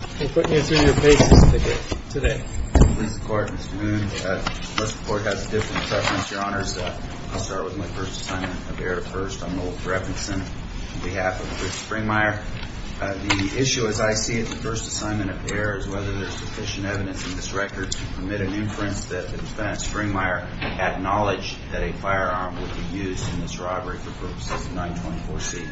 The issue as I see it, the first assignment of error is whether there is sufficient evidence in this record to permit an inference that the defendant Springmeier acknowledged that a firearm would be used in this robbery for purposes of 924C.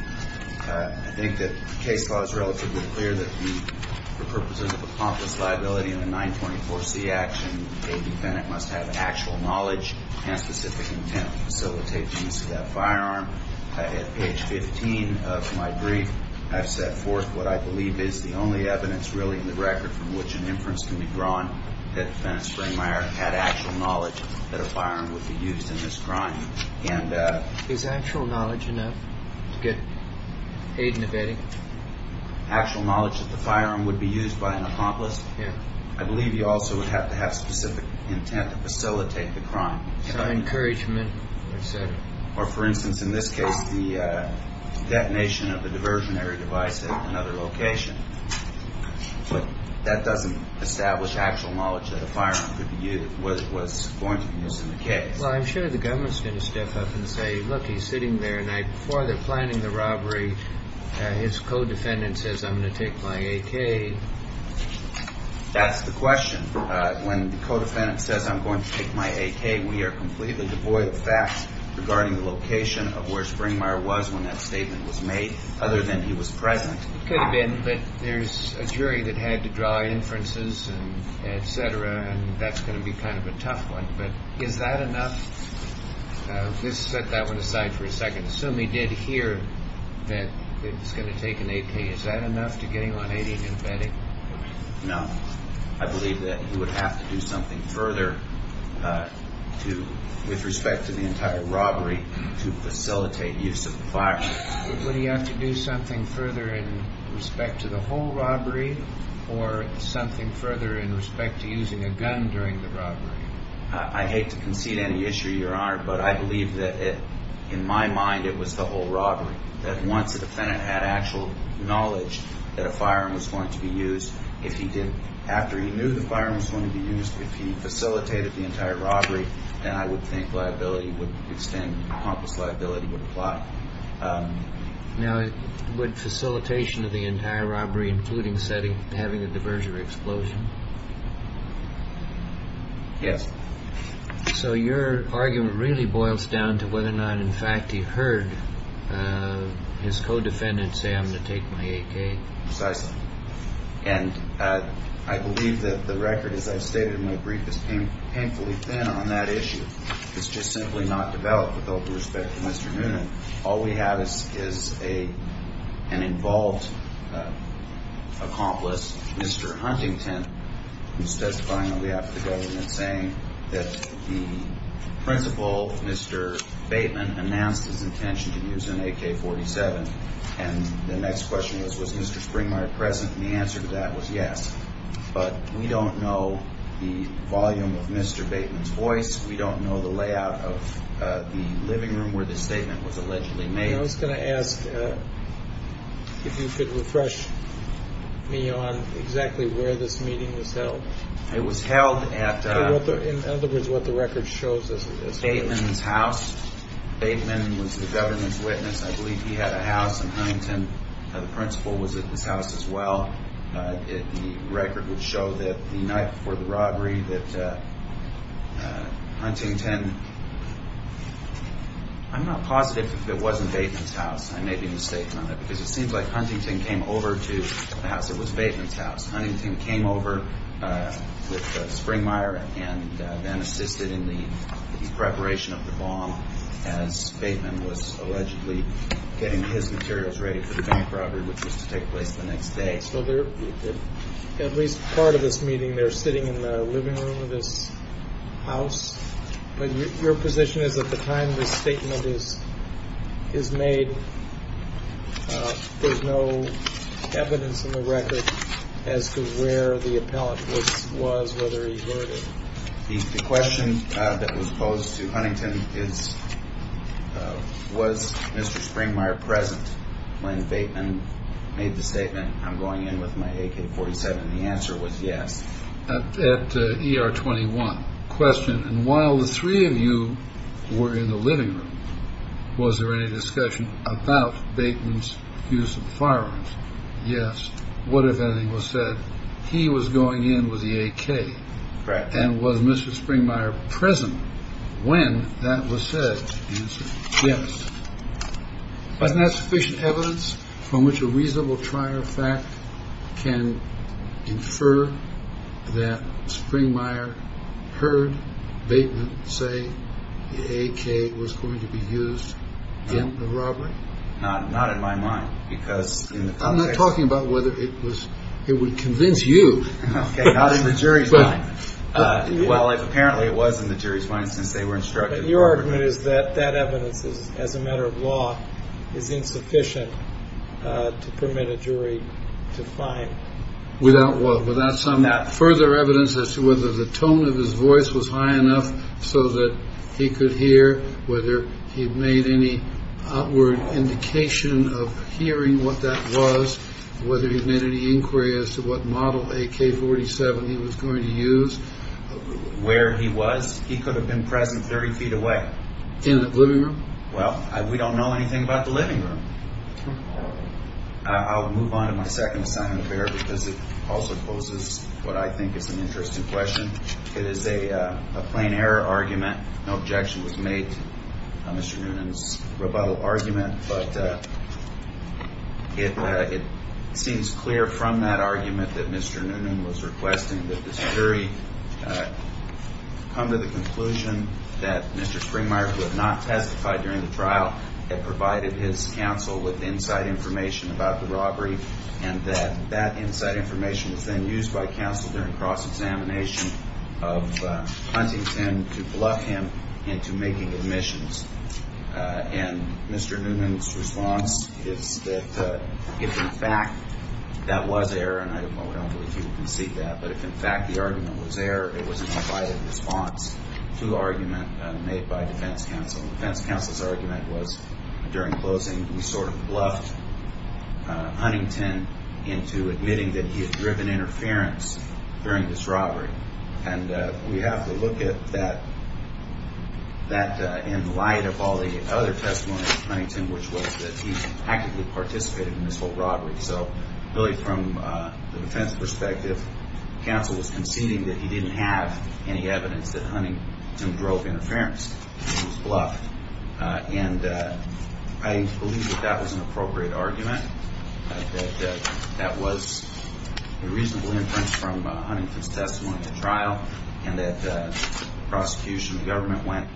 I think that the case law is relatively clear that for purposes of accomplice liability in a 924C action, the defendant must have actual knowledge and specific intent to facilitate the use of that firearm. At page 15 of my brief, I've set forth what I believe is the only evidence really in the record from which an inference can be drawn that the defendant Springmeier had actual knowledge that a firearm would be used in this crime. Is actual knowledge enough to get aid in the bedding? Actual knowledge that the firearm would be used by an accomplice? Yeah. I believe you also would have to have specific intent to facilitate the crime. Encouragement, et cetera. Or for instance, in this case, the detonation of a diversionary device at another location. But that doesn't establish actual knowledge that a firearm could be used, was going to be used in the case. Well, I'm sure the government's going to step up and say, look, he's sitting there and before they're planning the robbery, his co-defendant says, I'm going to take my AK. That's the question. When the co-defendant says, I'm going to take my AK, we are completely devoid of facts regarding the location of where Springmeier was when that statement was made, other than he was present. It could have been, but there's a jury that had to draw inferences and et cetera, and I think that's going to be kind of a tough one, but is that enough? Let's set that one aside for a second. Assume he did hear that it was going to take an AK. Is that enough to get him on 80 and in bedding? No. I believe that he would have to do something further with respect to the entire robbery to facilitate use of the firearm. Would he have to do something further in respect to the whole robbery or something further in respect to using a gun during the robbery? I hate to concede any issue, Your Honor, but I believe that in my mind it was the whole robbery, that once the defendant had actual knowledge that a firearm was going to be used, if he did, after he knew the firearm was going to be used, if he facilitated the entire robbery, then I would think liability would extend, pompous liability would apply. Now, would facilitation of the entire robbery, including having a diversionary explosion? Yes. So your argument really boils down to whether or not, in fact, he heard his co-defendant say, I'm going to take my AK? Precisely. And I believe that the record, as I've stated in my brief, is painfully thin on that issue. It's just simply not developed with all due respect to Mr. Noonan. All we have is an involved accomplice, Mr. Huntington, who's testifying on behalf of the government saying that the principal, Mr. Bateman, announced his intention to use an AK-47. And the next question was, was Mr. Springmeyer present? And the answer to that was yes. But we don't know the volume of Mr. Bateman's voice. We don't know the layout of the living room where the statement was allegedly made. And I was going to ask if you could refresh me on exactly where this meeting was held. It was held at... In other words, what the record shows us. Bateman's house. Bateman was the government's witness. I believe he had a house in Huntington. The principal was at his house as well. The record would show that the night before the robbery that Huntington... I'm not positive that it wasn't Bateman's house. I may be mistaken on that. Because it seems like Huntington came over to the house that was Bateman's house. Huntington came over with Springmeyer and then assisted in the preparation of the bomb as Bateman was allegedly getting his materials ready for the bank robbery, which was to take place the next day. So at least part of this meeting, they're sitting in the living room of this house. But your position is at the time this statement is made, there's no evidence in the record as to where the appellant was, whether he heard it. The question that was posed to Huntington is, was Mr. Springmeyer present when Bateman... made the statement, I'm going in with my AK-47? The answer was yes. At ER 21, question, and while the three of you were in the living room, was there any discussion about Bateman's use of firearms? Yes. What if anything was said? He was going in with the AK. Correct. And was Mr. Springmeyer present when that was said? The answer is yes. Wasn't that sufficient evidence from which a reasonable trier of fact can infer that Springmeyer heard Bateman say the AK was going to be used in the robbery? No, not in my mind, because in the context... I'm not talking about whether it would convince you. Okay, not in the jury's mind. Well, apparently it was in the jury's mind since they were instructed... But your argument is that that evidence, as a matter of law, is insufficient to permit a jury to find... Without what? Without some further evidence as to whether the tone of his voice was high enough so that he could hear, whether he made any outward indication of hearing what that was, whether he made any inquiry as to what model AK-47 he was going to use, where he was. He could have been present 30 feet away. In the living room? Well, we don't know anything about the living room. I'll move on to my second assignment of error, because it also poses what I think is an interesting question. It is a plain error argument. No objection was made to Mr. Noonan's rebuttal argument, but it seems clear from that argument that Mr. Noonan was requesting that the jury come to the conclusion that Mr. Springmeier, who had not testified during the trial, had provided his counsel with inside information about the robbery and that that inside information was then used by counsel during cross-examination of Huntington to bluff him into making admissions. And Mr. Noonan's response is that if, in fact, that was error, and I don't believe he would concede that, but if, in fact, the argument was error, it was an invited response to the argument made by defense counsel. Defense counsel's argument was, during closing, we sort of bluffed Huntington into admitting that he had driven interference during this robbery. And we have to look at that in light of all the other testimonies of Huntington, which was that he actively participated in this whole robbery. So really from the defense perspective, counsel was conceding that he didn't have any evidence that Huntington drove interference. He was bluffed. And I believe that that was an appropriate argument, that that was a reasonable inference from Huntington's testimony at trial, and that the prosecution, the government, went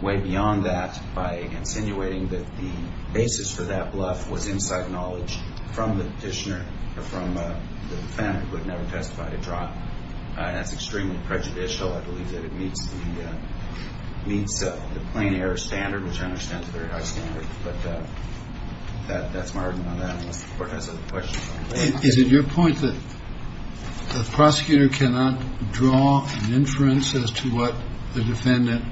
way beyond that by insinuating that the basis for that bluff was inside knowledge from the petitioner, from the defendant who had never testified at trial. That's extremely prejudicial. I believe that it meets the plain error standard, which I understand is a very high standard. But that's my argument on that, unless the Court has other questions. Is it your point that the prosecutor cannot draw an inference as to what the defendant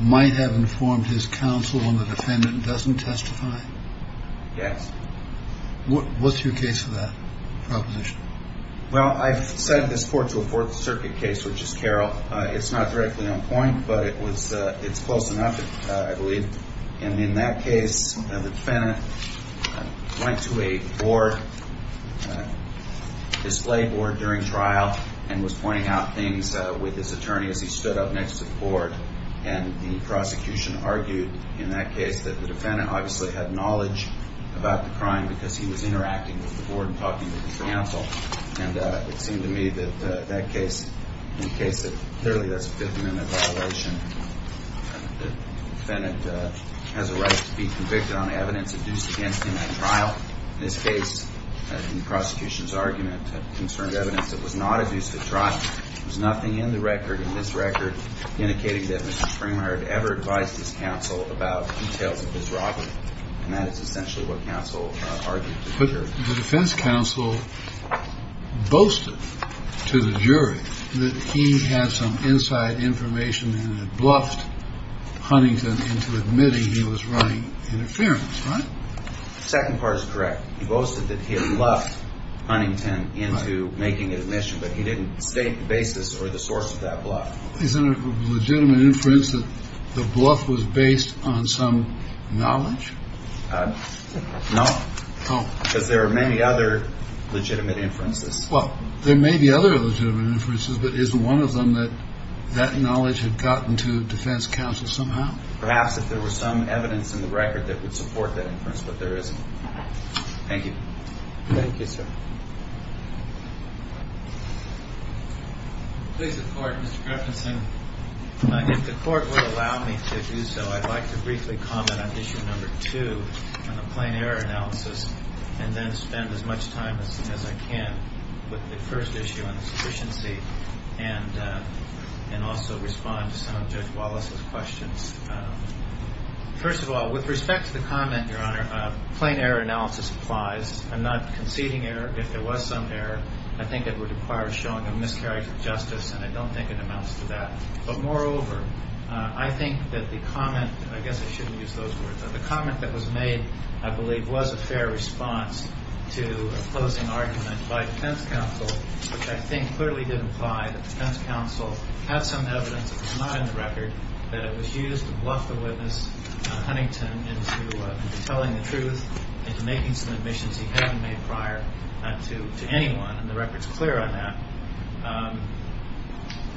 might have informed his counsel when the defendant doesn't testify? Yes. What's your case for that proposition? Well, I've cited this court to a Fourth Circuit case, which is Carroll. It's not directly on point, but it was it's close enough, I believe. And in that case, the defendant went to a board, a display board during trial, and was pointing out things with his attorney as he stood up next to the board. And the prosecution argued in that case that the defendant obviously had knowledge about the crime because he was interacting with the board and talking to his counsel. And it seemed to me that that case, in a case that clearly doesn't fit into that evaluation, the defendant has a right to be convicted on evidence adduced against him at trial. In this case, the prosecution's argument concerned evidence that was not adduced at trial. There was nothing in the record, in this record, indicating that Mr. Springer had ever advised his counsel about details of his robbery. And that is essentially what counsel argued to the jury. The defense counsel boasted to the jury that he had some inside information and bluffed Huntington into admitting he was running interference. Right. Second part is correct. He boasted that he had bluffed Huntington into making admission, but he didn't state the basis or the source of that bluff. Is there a legitimate inference that the bluff was based on some knowledge? No. Oh. Because there are many other legitimate inferences. Well, there may be other legitimate inferences, but isn't one of them that that knowledge had gotten to the defense counsel somehow? Perhaps if there was some evidence in the record that would support that inference, but there isn't. Thank you. Thank you, sir. Please report, Mr. Kraftensen. If the court would allow me to do so, I'd like to briefly comment on issue number two on the plain error analysis and then spend as much time as I can with the first issue on the sufficiency and also respond to some of Judge Wallace's questions. First of all, with respect to the comment, Your Honor, plain error analysis applies. I'm not conceding error. If there was some error, I think it would require showing a miscarriage of justice, and I don't think it amounts to that. But moreover, I think that the comment, I guess I shouldn't use those words, but the comment that was made, I believe, was a fair response to a closing argument by the defense counsel, which I think clearly did imply that the defense counsel had some evidence that was not in the record that it was used to bluff the witness, Huntington, into telling the truth, into making some admissions he hadn't made prior to anyone, and the record's clear on that.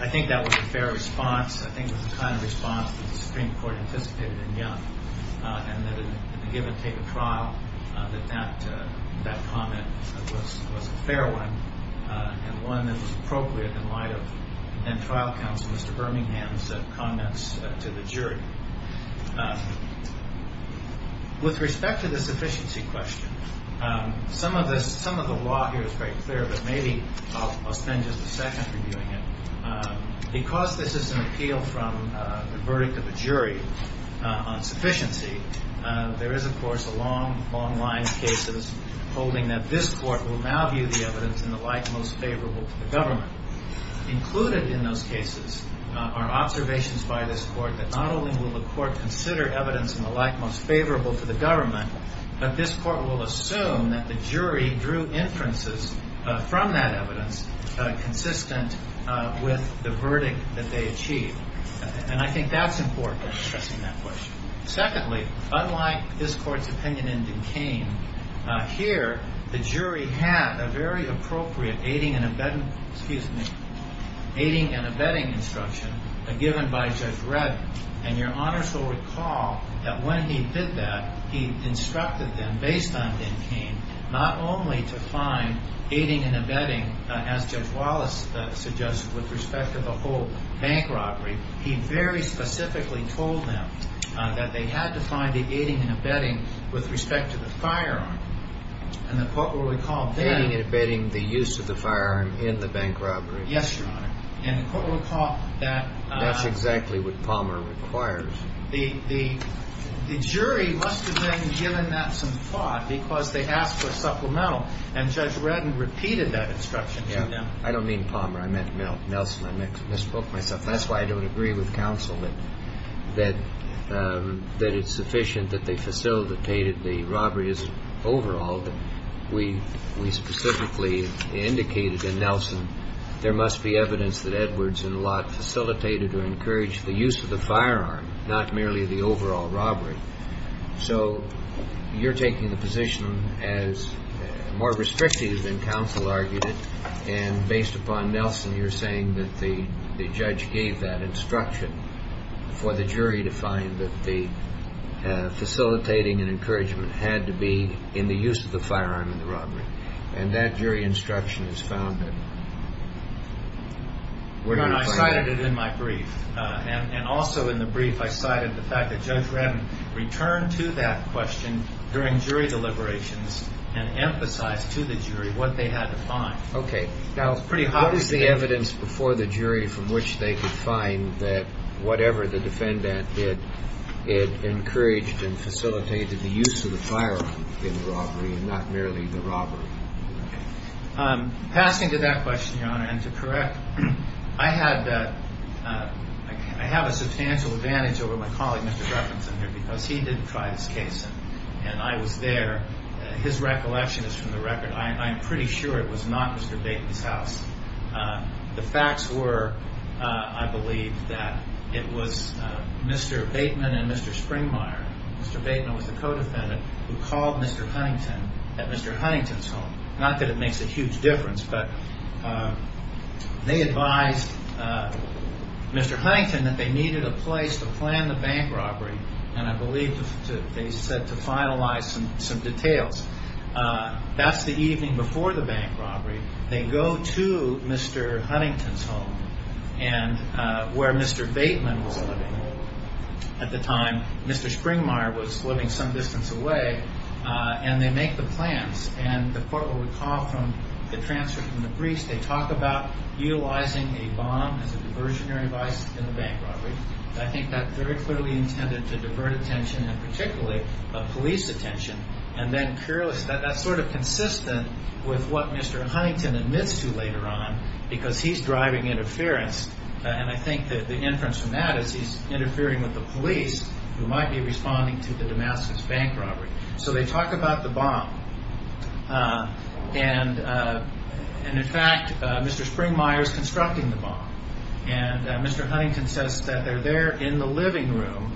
I think that was a fair response. I think it was the kind of response that the Supreme Court anticipated in Young, and that it would give or take a trial that that comment was a fair one and one that was appropriate in light of then-trial counsel, Mr. Birmingham's, comments to the jury. With respect to the sufficiency question, some of the law here is very clear, but maybe I'll spend just a second reviewing it. Because this is an appeal from the verdict of a jury on sufficiency, there is, of course, a long, long line of cases holding that this court will now view the evidence in the light most favorable to the government. Included in those cases are observations by this court that not only will the court consider evidence in the light most favorable to the government, but this court will assume that the jury drew inferences from that evidence consistent with the verdict that they achieved. And I think that's important in addressing that question. Secondly, unlike this court's opinion in Duquesne, here the jury had a very appropriate aiding and abetting instruction given by Judge Redd. And your honors will recall that when he did that, he instructed them, based on Duquesne, not only to find aiding and abetting, as Judge Wallace suggested, with respect to the whole bank robbery, he very specifically told them that they had to find the aiding and abetting with respect to the firearm. And the court will recall that... Aiding and abetting the use of the firearm in the bank robbery. Yes, your honor. And the court will recall that... That's exactly what Palmer requires. The jury must have then given that some thought because they asked for supplemental, and Judge Redd repeated that instruction to them. I don't mean Palmer. I meant Nelson. I misspoke myself. That's why I don't agree with counsel that it's sufficient that they facilitated the robberies overall. We specifically indicated in Nelson, there must be evidence that Edwards and Lott facilitated or encouraged the use of the firearm, not merely the overall robbery. So you're taking the position as more restrictive than counsel argued it, and based upon Nelson, you're saying that the judge gave that instruction for the jury to find that the facilitating and encouragement had to be in the use of the firearm in the robbery. And that jury instruction is founded. Your honor, I cited it in my brief, and also in the brief I cited the fact that Judge Redd returned to that question during jury deliberations and emphasized to the jury what they had to find. Okay. Now, what is the evidence before the jury from which they could find that whatever the defendant did, it encouraged and facilitated the use of the firearm in the robbery and not merely the robbery? Passing to that question, your honor, and to correct, I have a substantial advantage over my colleague, Mr. Jefferson, here because he didn't try this case, and I was there. His recollection is from the record. I'm pretty sure it was not Mr. Bateman's house. The facts were, I believe, that it was Mr. Bateman and Mr. Springmeier, Mr. Bateman was the co-defendant, who called Mr. Huntington at Mr. Huntington's home. Not that it makes a huge difference, but they advised Mr. Huntington that they needed a place to plan the bank robbery, and I believe they said to finalize some details. That's the evening before the bank robbery. They go to Mr. Huntington's home, where Mr. Bateman was living at the time. Mr. Springmeier was living some distance away, and they make the plans, and the court will recall from the transfer from the briefs, they talk about utilizing a bomb as a diversionary device in the bank robbery. I think that very clearly intended to divert attention, and particularly police attention, and that's sort of consistent with what Mr. Huntington admits to later on, because he's driving interference, and I think the inference from that is he's interfering with the police, who might be responding to the Damascus bank robbery. So they talk about the bomb, and in fact, Mr. Springmeier is constructing the bomb, and Mr. Huntington says that they're there in the living room,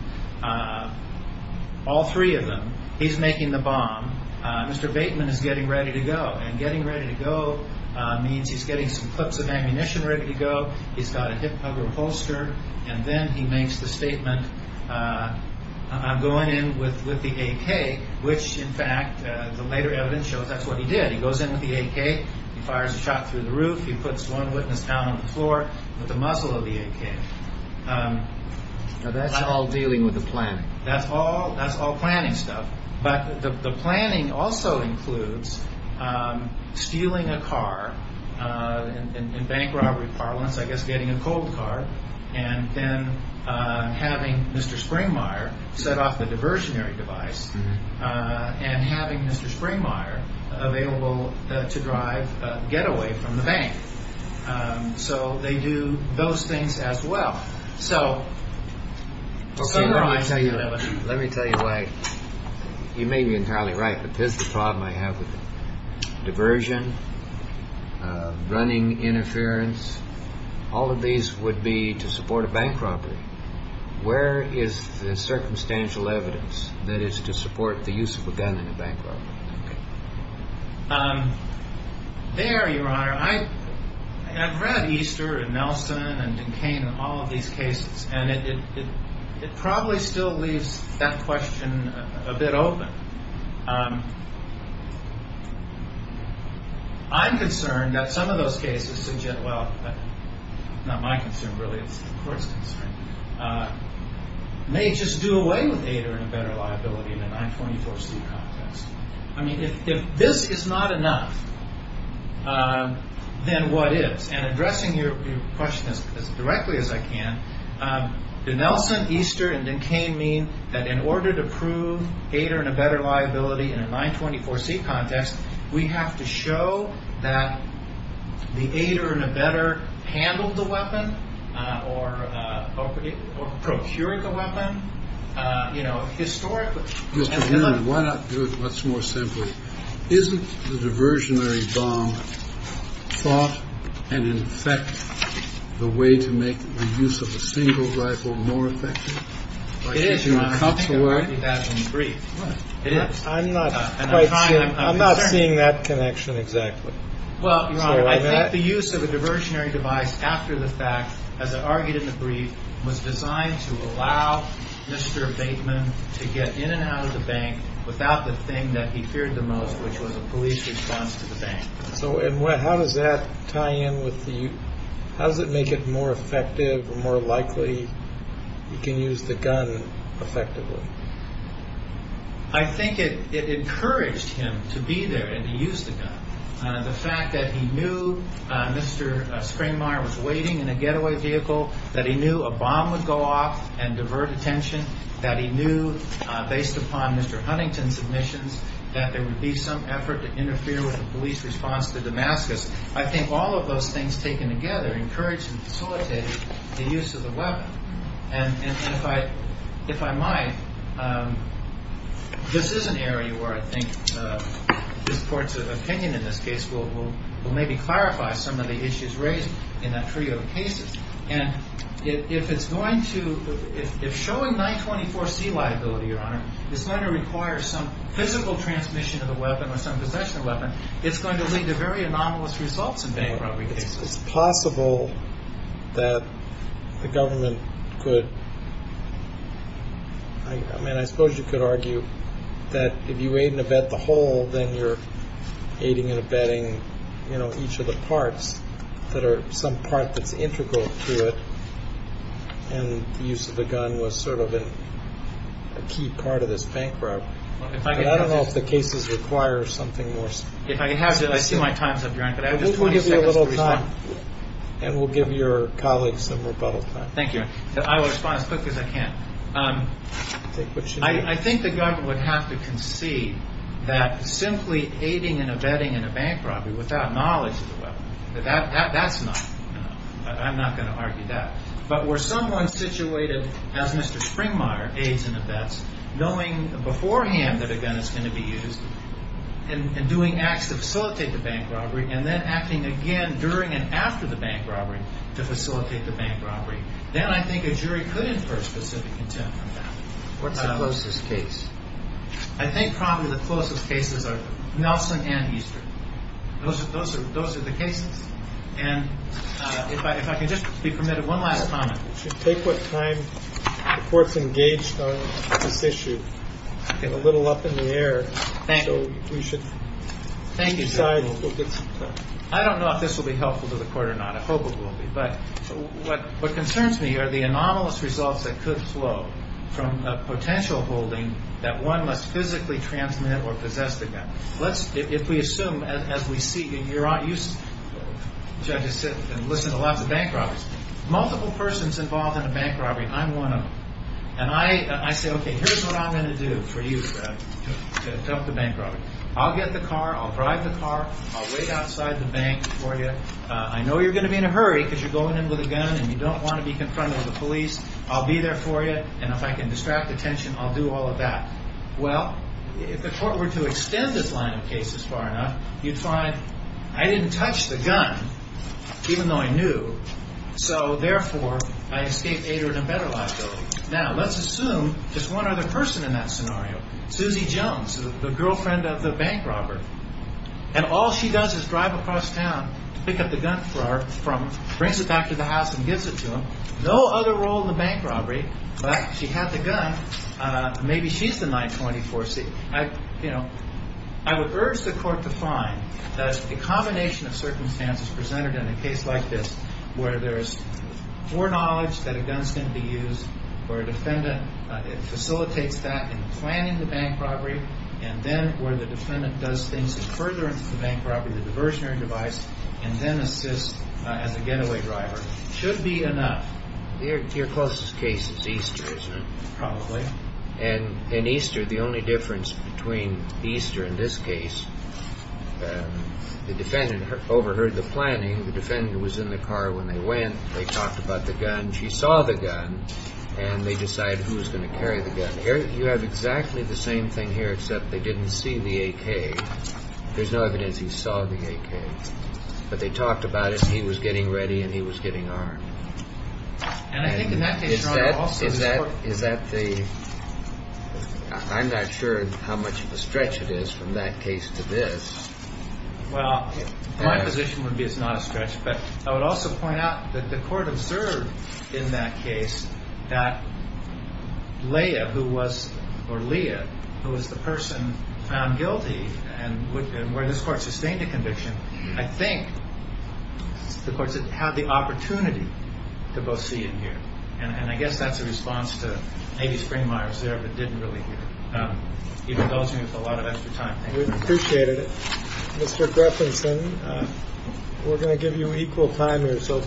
all three of them. He's making the bomb. Mr. Bateman is getting ready to go, and getting ready to go means he's getting some clips of ammunition ready to go. He's got a hip-hugger holster, and then he makes the statement, I'm going in with the AK, which in fact, the later evidence shows that's what he did. He goes in with the AK. He fires a shot through the roof. He puts one witness down on the floor with the muzzle of the AK. Now, that's all dealing with the planning. That's all planning stuff, but the planning also includes stealing a car, in bank robbery parlance, I guess getting a cold car, and then having Mr. Springmeier set off the diversionary device, and having Mr. Springmeier available to drive getaway from the bank. So they do those things as well. Let me tell you why. You may be entirely right, but this is the problem I have with it. Diversion, running interference, all of these would be to support a bank robbery. Where is the circumstantial evidence that is to support the use of a gun in a bank robbery? There, Your Honor. I've read Easter and Nelson and Duquesne and all of these cases, and it probably still leaves that question a bit open. I'm concerned that some of those cases, well, not my concern really, it's the court's concern, may just do away with AIDR and a better liability in a 924C context. I mean, if this is not enough, then what is? And addressing your question as directly as I can, do Nelson, Easter, and Duquesne mean that in order to prove AIDR and a better liability in a 924C context, we have to show that the AIDR and a better handled the weapon or procured the weapon, you know, historically? Mr. Newman, why not do it much more simply? Isn't the diversionary bomb thought and in effect the way to make the use of a single rifle more effective? It is, Your Honor. I'm not seeing that connection exactly. Well, Your Honor, I think the use of a diversionary device after the fact, as I argued in the brief, was designed to allow Mr. Bateman to get in and out of the bank without the thing that he feared the most, which was a police response to the bank. So how does that tie in with the, how does it make it more effective, more likely you can use the gun effectively? I think it encouraged him to be there and to use the gun. The fact that he knew Mr. Springmeier was waiting in a getaway vehicle, that he knew a bomb would go off and divert attention, that he knew based upon Mr. Huntington's admissions that there would be some effort to interfere with the police response to Damascus. I think all of those things taken together encouraged and facilitated the use of the weapon. And if I might, this is an area where I think this Court's opinion in this case will maybe clarify some of the issues raised in that trio of cases. And if it's going to, if showing 924C liability, Your Honor, it's going to require some physical transmission of the weapon or some possession of the weapon, it's going to lead to very anomalous results in bank robbery cases. It's possible that the government could, I mean, I suppose you could argue that if you aid and abet the whole, then you're aiding and abetting, you know, each of the parts that are some part that's integral to it. And the use of the gun was sort of a key part of this bank robbery. And I don't know if the cases require something more specific. If I have to, I see my time's up, Your Honor, but I have just 20 seconds to respond. We'll give you a little time and we'll give your colleagues some rebuttal time. Thank you. I will respond as quick as I can. I think the government would have to concede that simply aiding and abetting in a bank robbery without knowledge of the weapon, that's not, you know, I'm not going to argue that. But were someone situated as Mr. Springmeier, aids and abets, knowing beforehand that a gun is going to be used and doing acts to facilitate the bank robbery and then acting again during and after the bank robbery to facilitate the bank robbery, then I think a jury could infer specific intent from that. What's the closest case? I think probably the closest cases are Nelson and Easter. Those are the cases. And if I can just be permitted one last comment. Take what time the court's engaged on this issue. A little up in the air. Thank you. So we should decide. I don't know if this will be helpful to the court or not. I hope it will be. But what concerns me are the anomalous results that could flow from a potential holding that one must physically transmit or possess the gun. Let's, if we assume, as we see, you're not used to, I just sit and listen to lots of bank robberies. Multiple persons involved in a bank robbery, I'm one of them. And I say, okay, here's what I'm going to do for you to help the bank robbery. I'll get the car. I'll drive the car. I'll wait outside the bank for you. I know you're going to be in a hurry because you're going in with a gun and you don't want to be confronted with the police. I'll be there for you, and if I can distract attention, I'll do all of that. Well, if the court were to extend this line of case as far enough, you'd find I didn't touch the gun, even though I knew. So, therefore, I escaped aid or an embedded liability. Now, let's assume there's one other person in that scenario, Susie Jones, the girlfriend of the bank robber. And all she does is drive across town to pick up the gun for her, brings it back to the house and gives it to him. No other role in the bank robbery, but she had the gun. Maybe she's the 924C. I would urge the court to find that the combination of circumstances presented in a case like this where there's foreknowledge that a gun's going to be used, where a defendant facilitates that in planning the bank robbery, and then where the defendant does things to further the bank robbery, the diversionary device, and then assists as a getaway driver, should be enough. Your closest case is Easter, isn't it? Probably. And in Easter, the only difference between Easter in this case, the defendant overheard the planning. The defendant was in the car when they went. They talked about the gun. She saw the gun, and they decided who was going to carry the gun. You have exactly the same thing here, except they didn't see the AK. There's no evidence he saw the AK. But they talked about it, and he was getting ready, and he was getting armed. And I think in that case, your Honor, also the court— Is that the—I'm not sure how much of a stretch it is from that case to this. Well, my position would be it's not a stretch, but I would also point out that the court observed in that case that Leah, who was— I think the courts had the opportunity to both see and hear, and I guess that's a response to maybe Springmeier was there but didn't really hear. Even though it seems like a lot of extra time. Thank you. We appreciate it. Mr. Greffinson, we're going to give you equal time here, so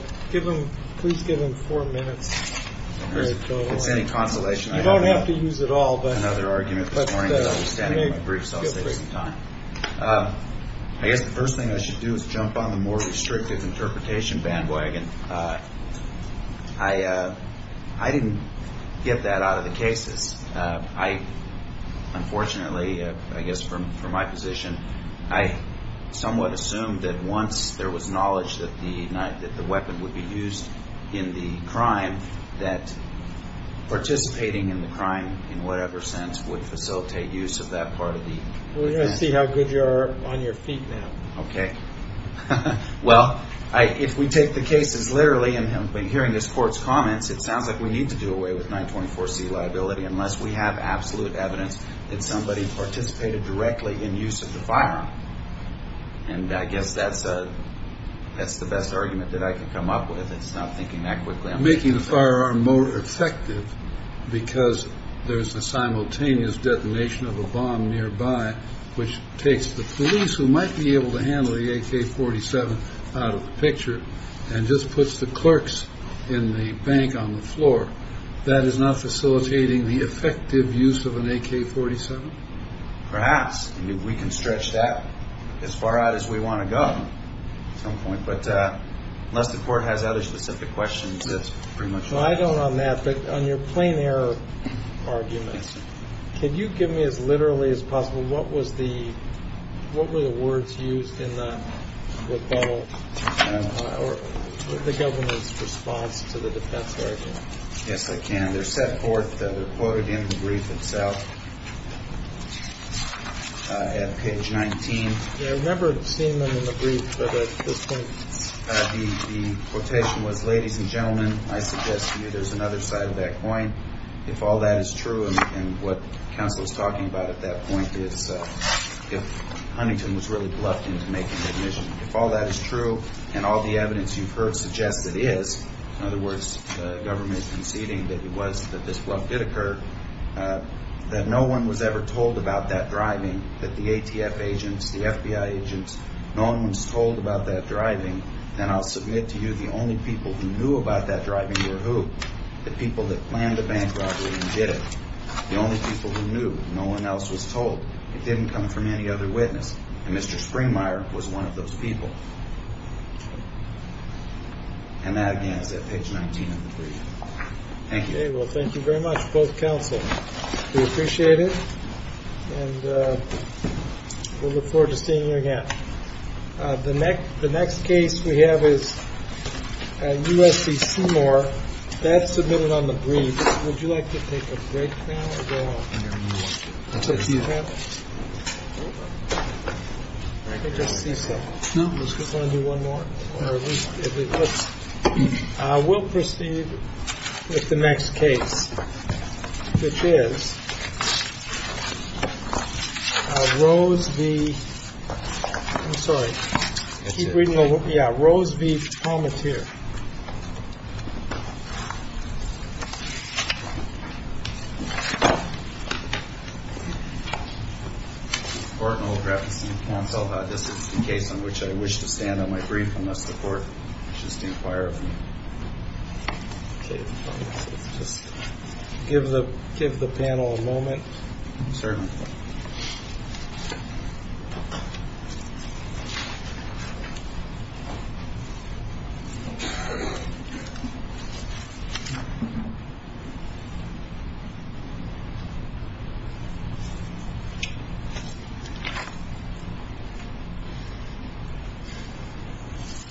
please give him four minutes. If there's any consolation, I don't have— You don't have to use it all, but— —another argument this morning about understanding my brief, so I'll save some time. I guess the first thing I should do is jump on the more restrictive interpretation bandwagon. I didn't get that out of the cases. I—unfortunately, I guess from my position, I somewhat assumed that once there was knowledge that the weapon would be used in the crime, that participating in the crime in whatever sense would facilitate use of that part of the— We're going to see how good you are on your feet now. Okay. Well, if we take the cases literally, and hearing this court's comments, it sounds like we need to do away with 924C liability unless we have absolute evidence that somebody participated directly in use of the firearm. And I guess that's the best argument that I can come up with. It's not thinking that quickly. Making the firearm more effective because there's a simultaneous detonation of a bomb nearby, which takes the police who might be able to handle the AK-47 out of the picture and just puts the clerks in the bank on the floor, that is not facilitating the effective use of an AK-47? Perhaps. I mean, we can stretch that as far out as we want to go at some point. But unless the court has other specific questions, that's pretty much all. I don't on that. But on your plain error argument, can you give me as literally as possible, what were the words used in the rebuttal or the government's response to the defense lawyer? Yes, I can. They're set forth, they're quoted in the brief itself at page 19. I remember seeing them in the brief, but at this point the quotation was, ladies and gentlemen, I suggest to you there's another side of that coin. If all that is true, and what counsel is talking about at that point, is if Huntington was really bluffed into making the admission, if all that is true and all the evidence you've heard suggests it is, in other words, government conceding that it was, that this bluff did occur, that no one was ever told about that driving, that the ATF agents, the FBI agents, no one was told about that driving, then I'll submit to you the only people who knew about that driving were who? The people that planned the bank robbery and did it. The only people who knew. No one else was told. It didn't come from any other witness. And Mr. Springmeyer was one of those people. And that again is at page 19 of the brief. Thank you. Well, thank you very much, both counsel. We appreciate it. And we'll look forward to seeing you again. The next case we have is U.S.C. Seymour. That's submitted on the brief. Would you like to take a break now or go on? I'll take a few. Okay. I just see some. No. Do you want to do one more? No. We'll proceed with the next case, which is Rose v. I'm sorry. Keep reading over. Yeah, Rose v. This is the case on which I wish to stand on my brief unless the court wishes to inquire of me. Just give the panel a moment. Certainly. Thank you.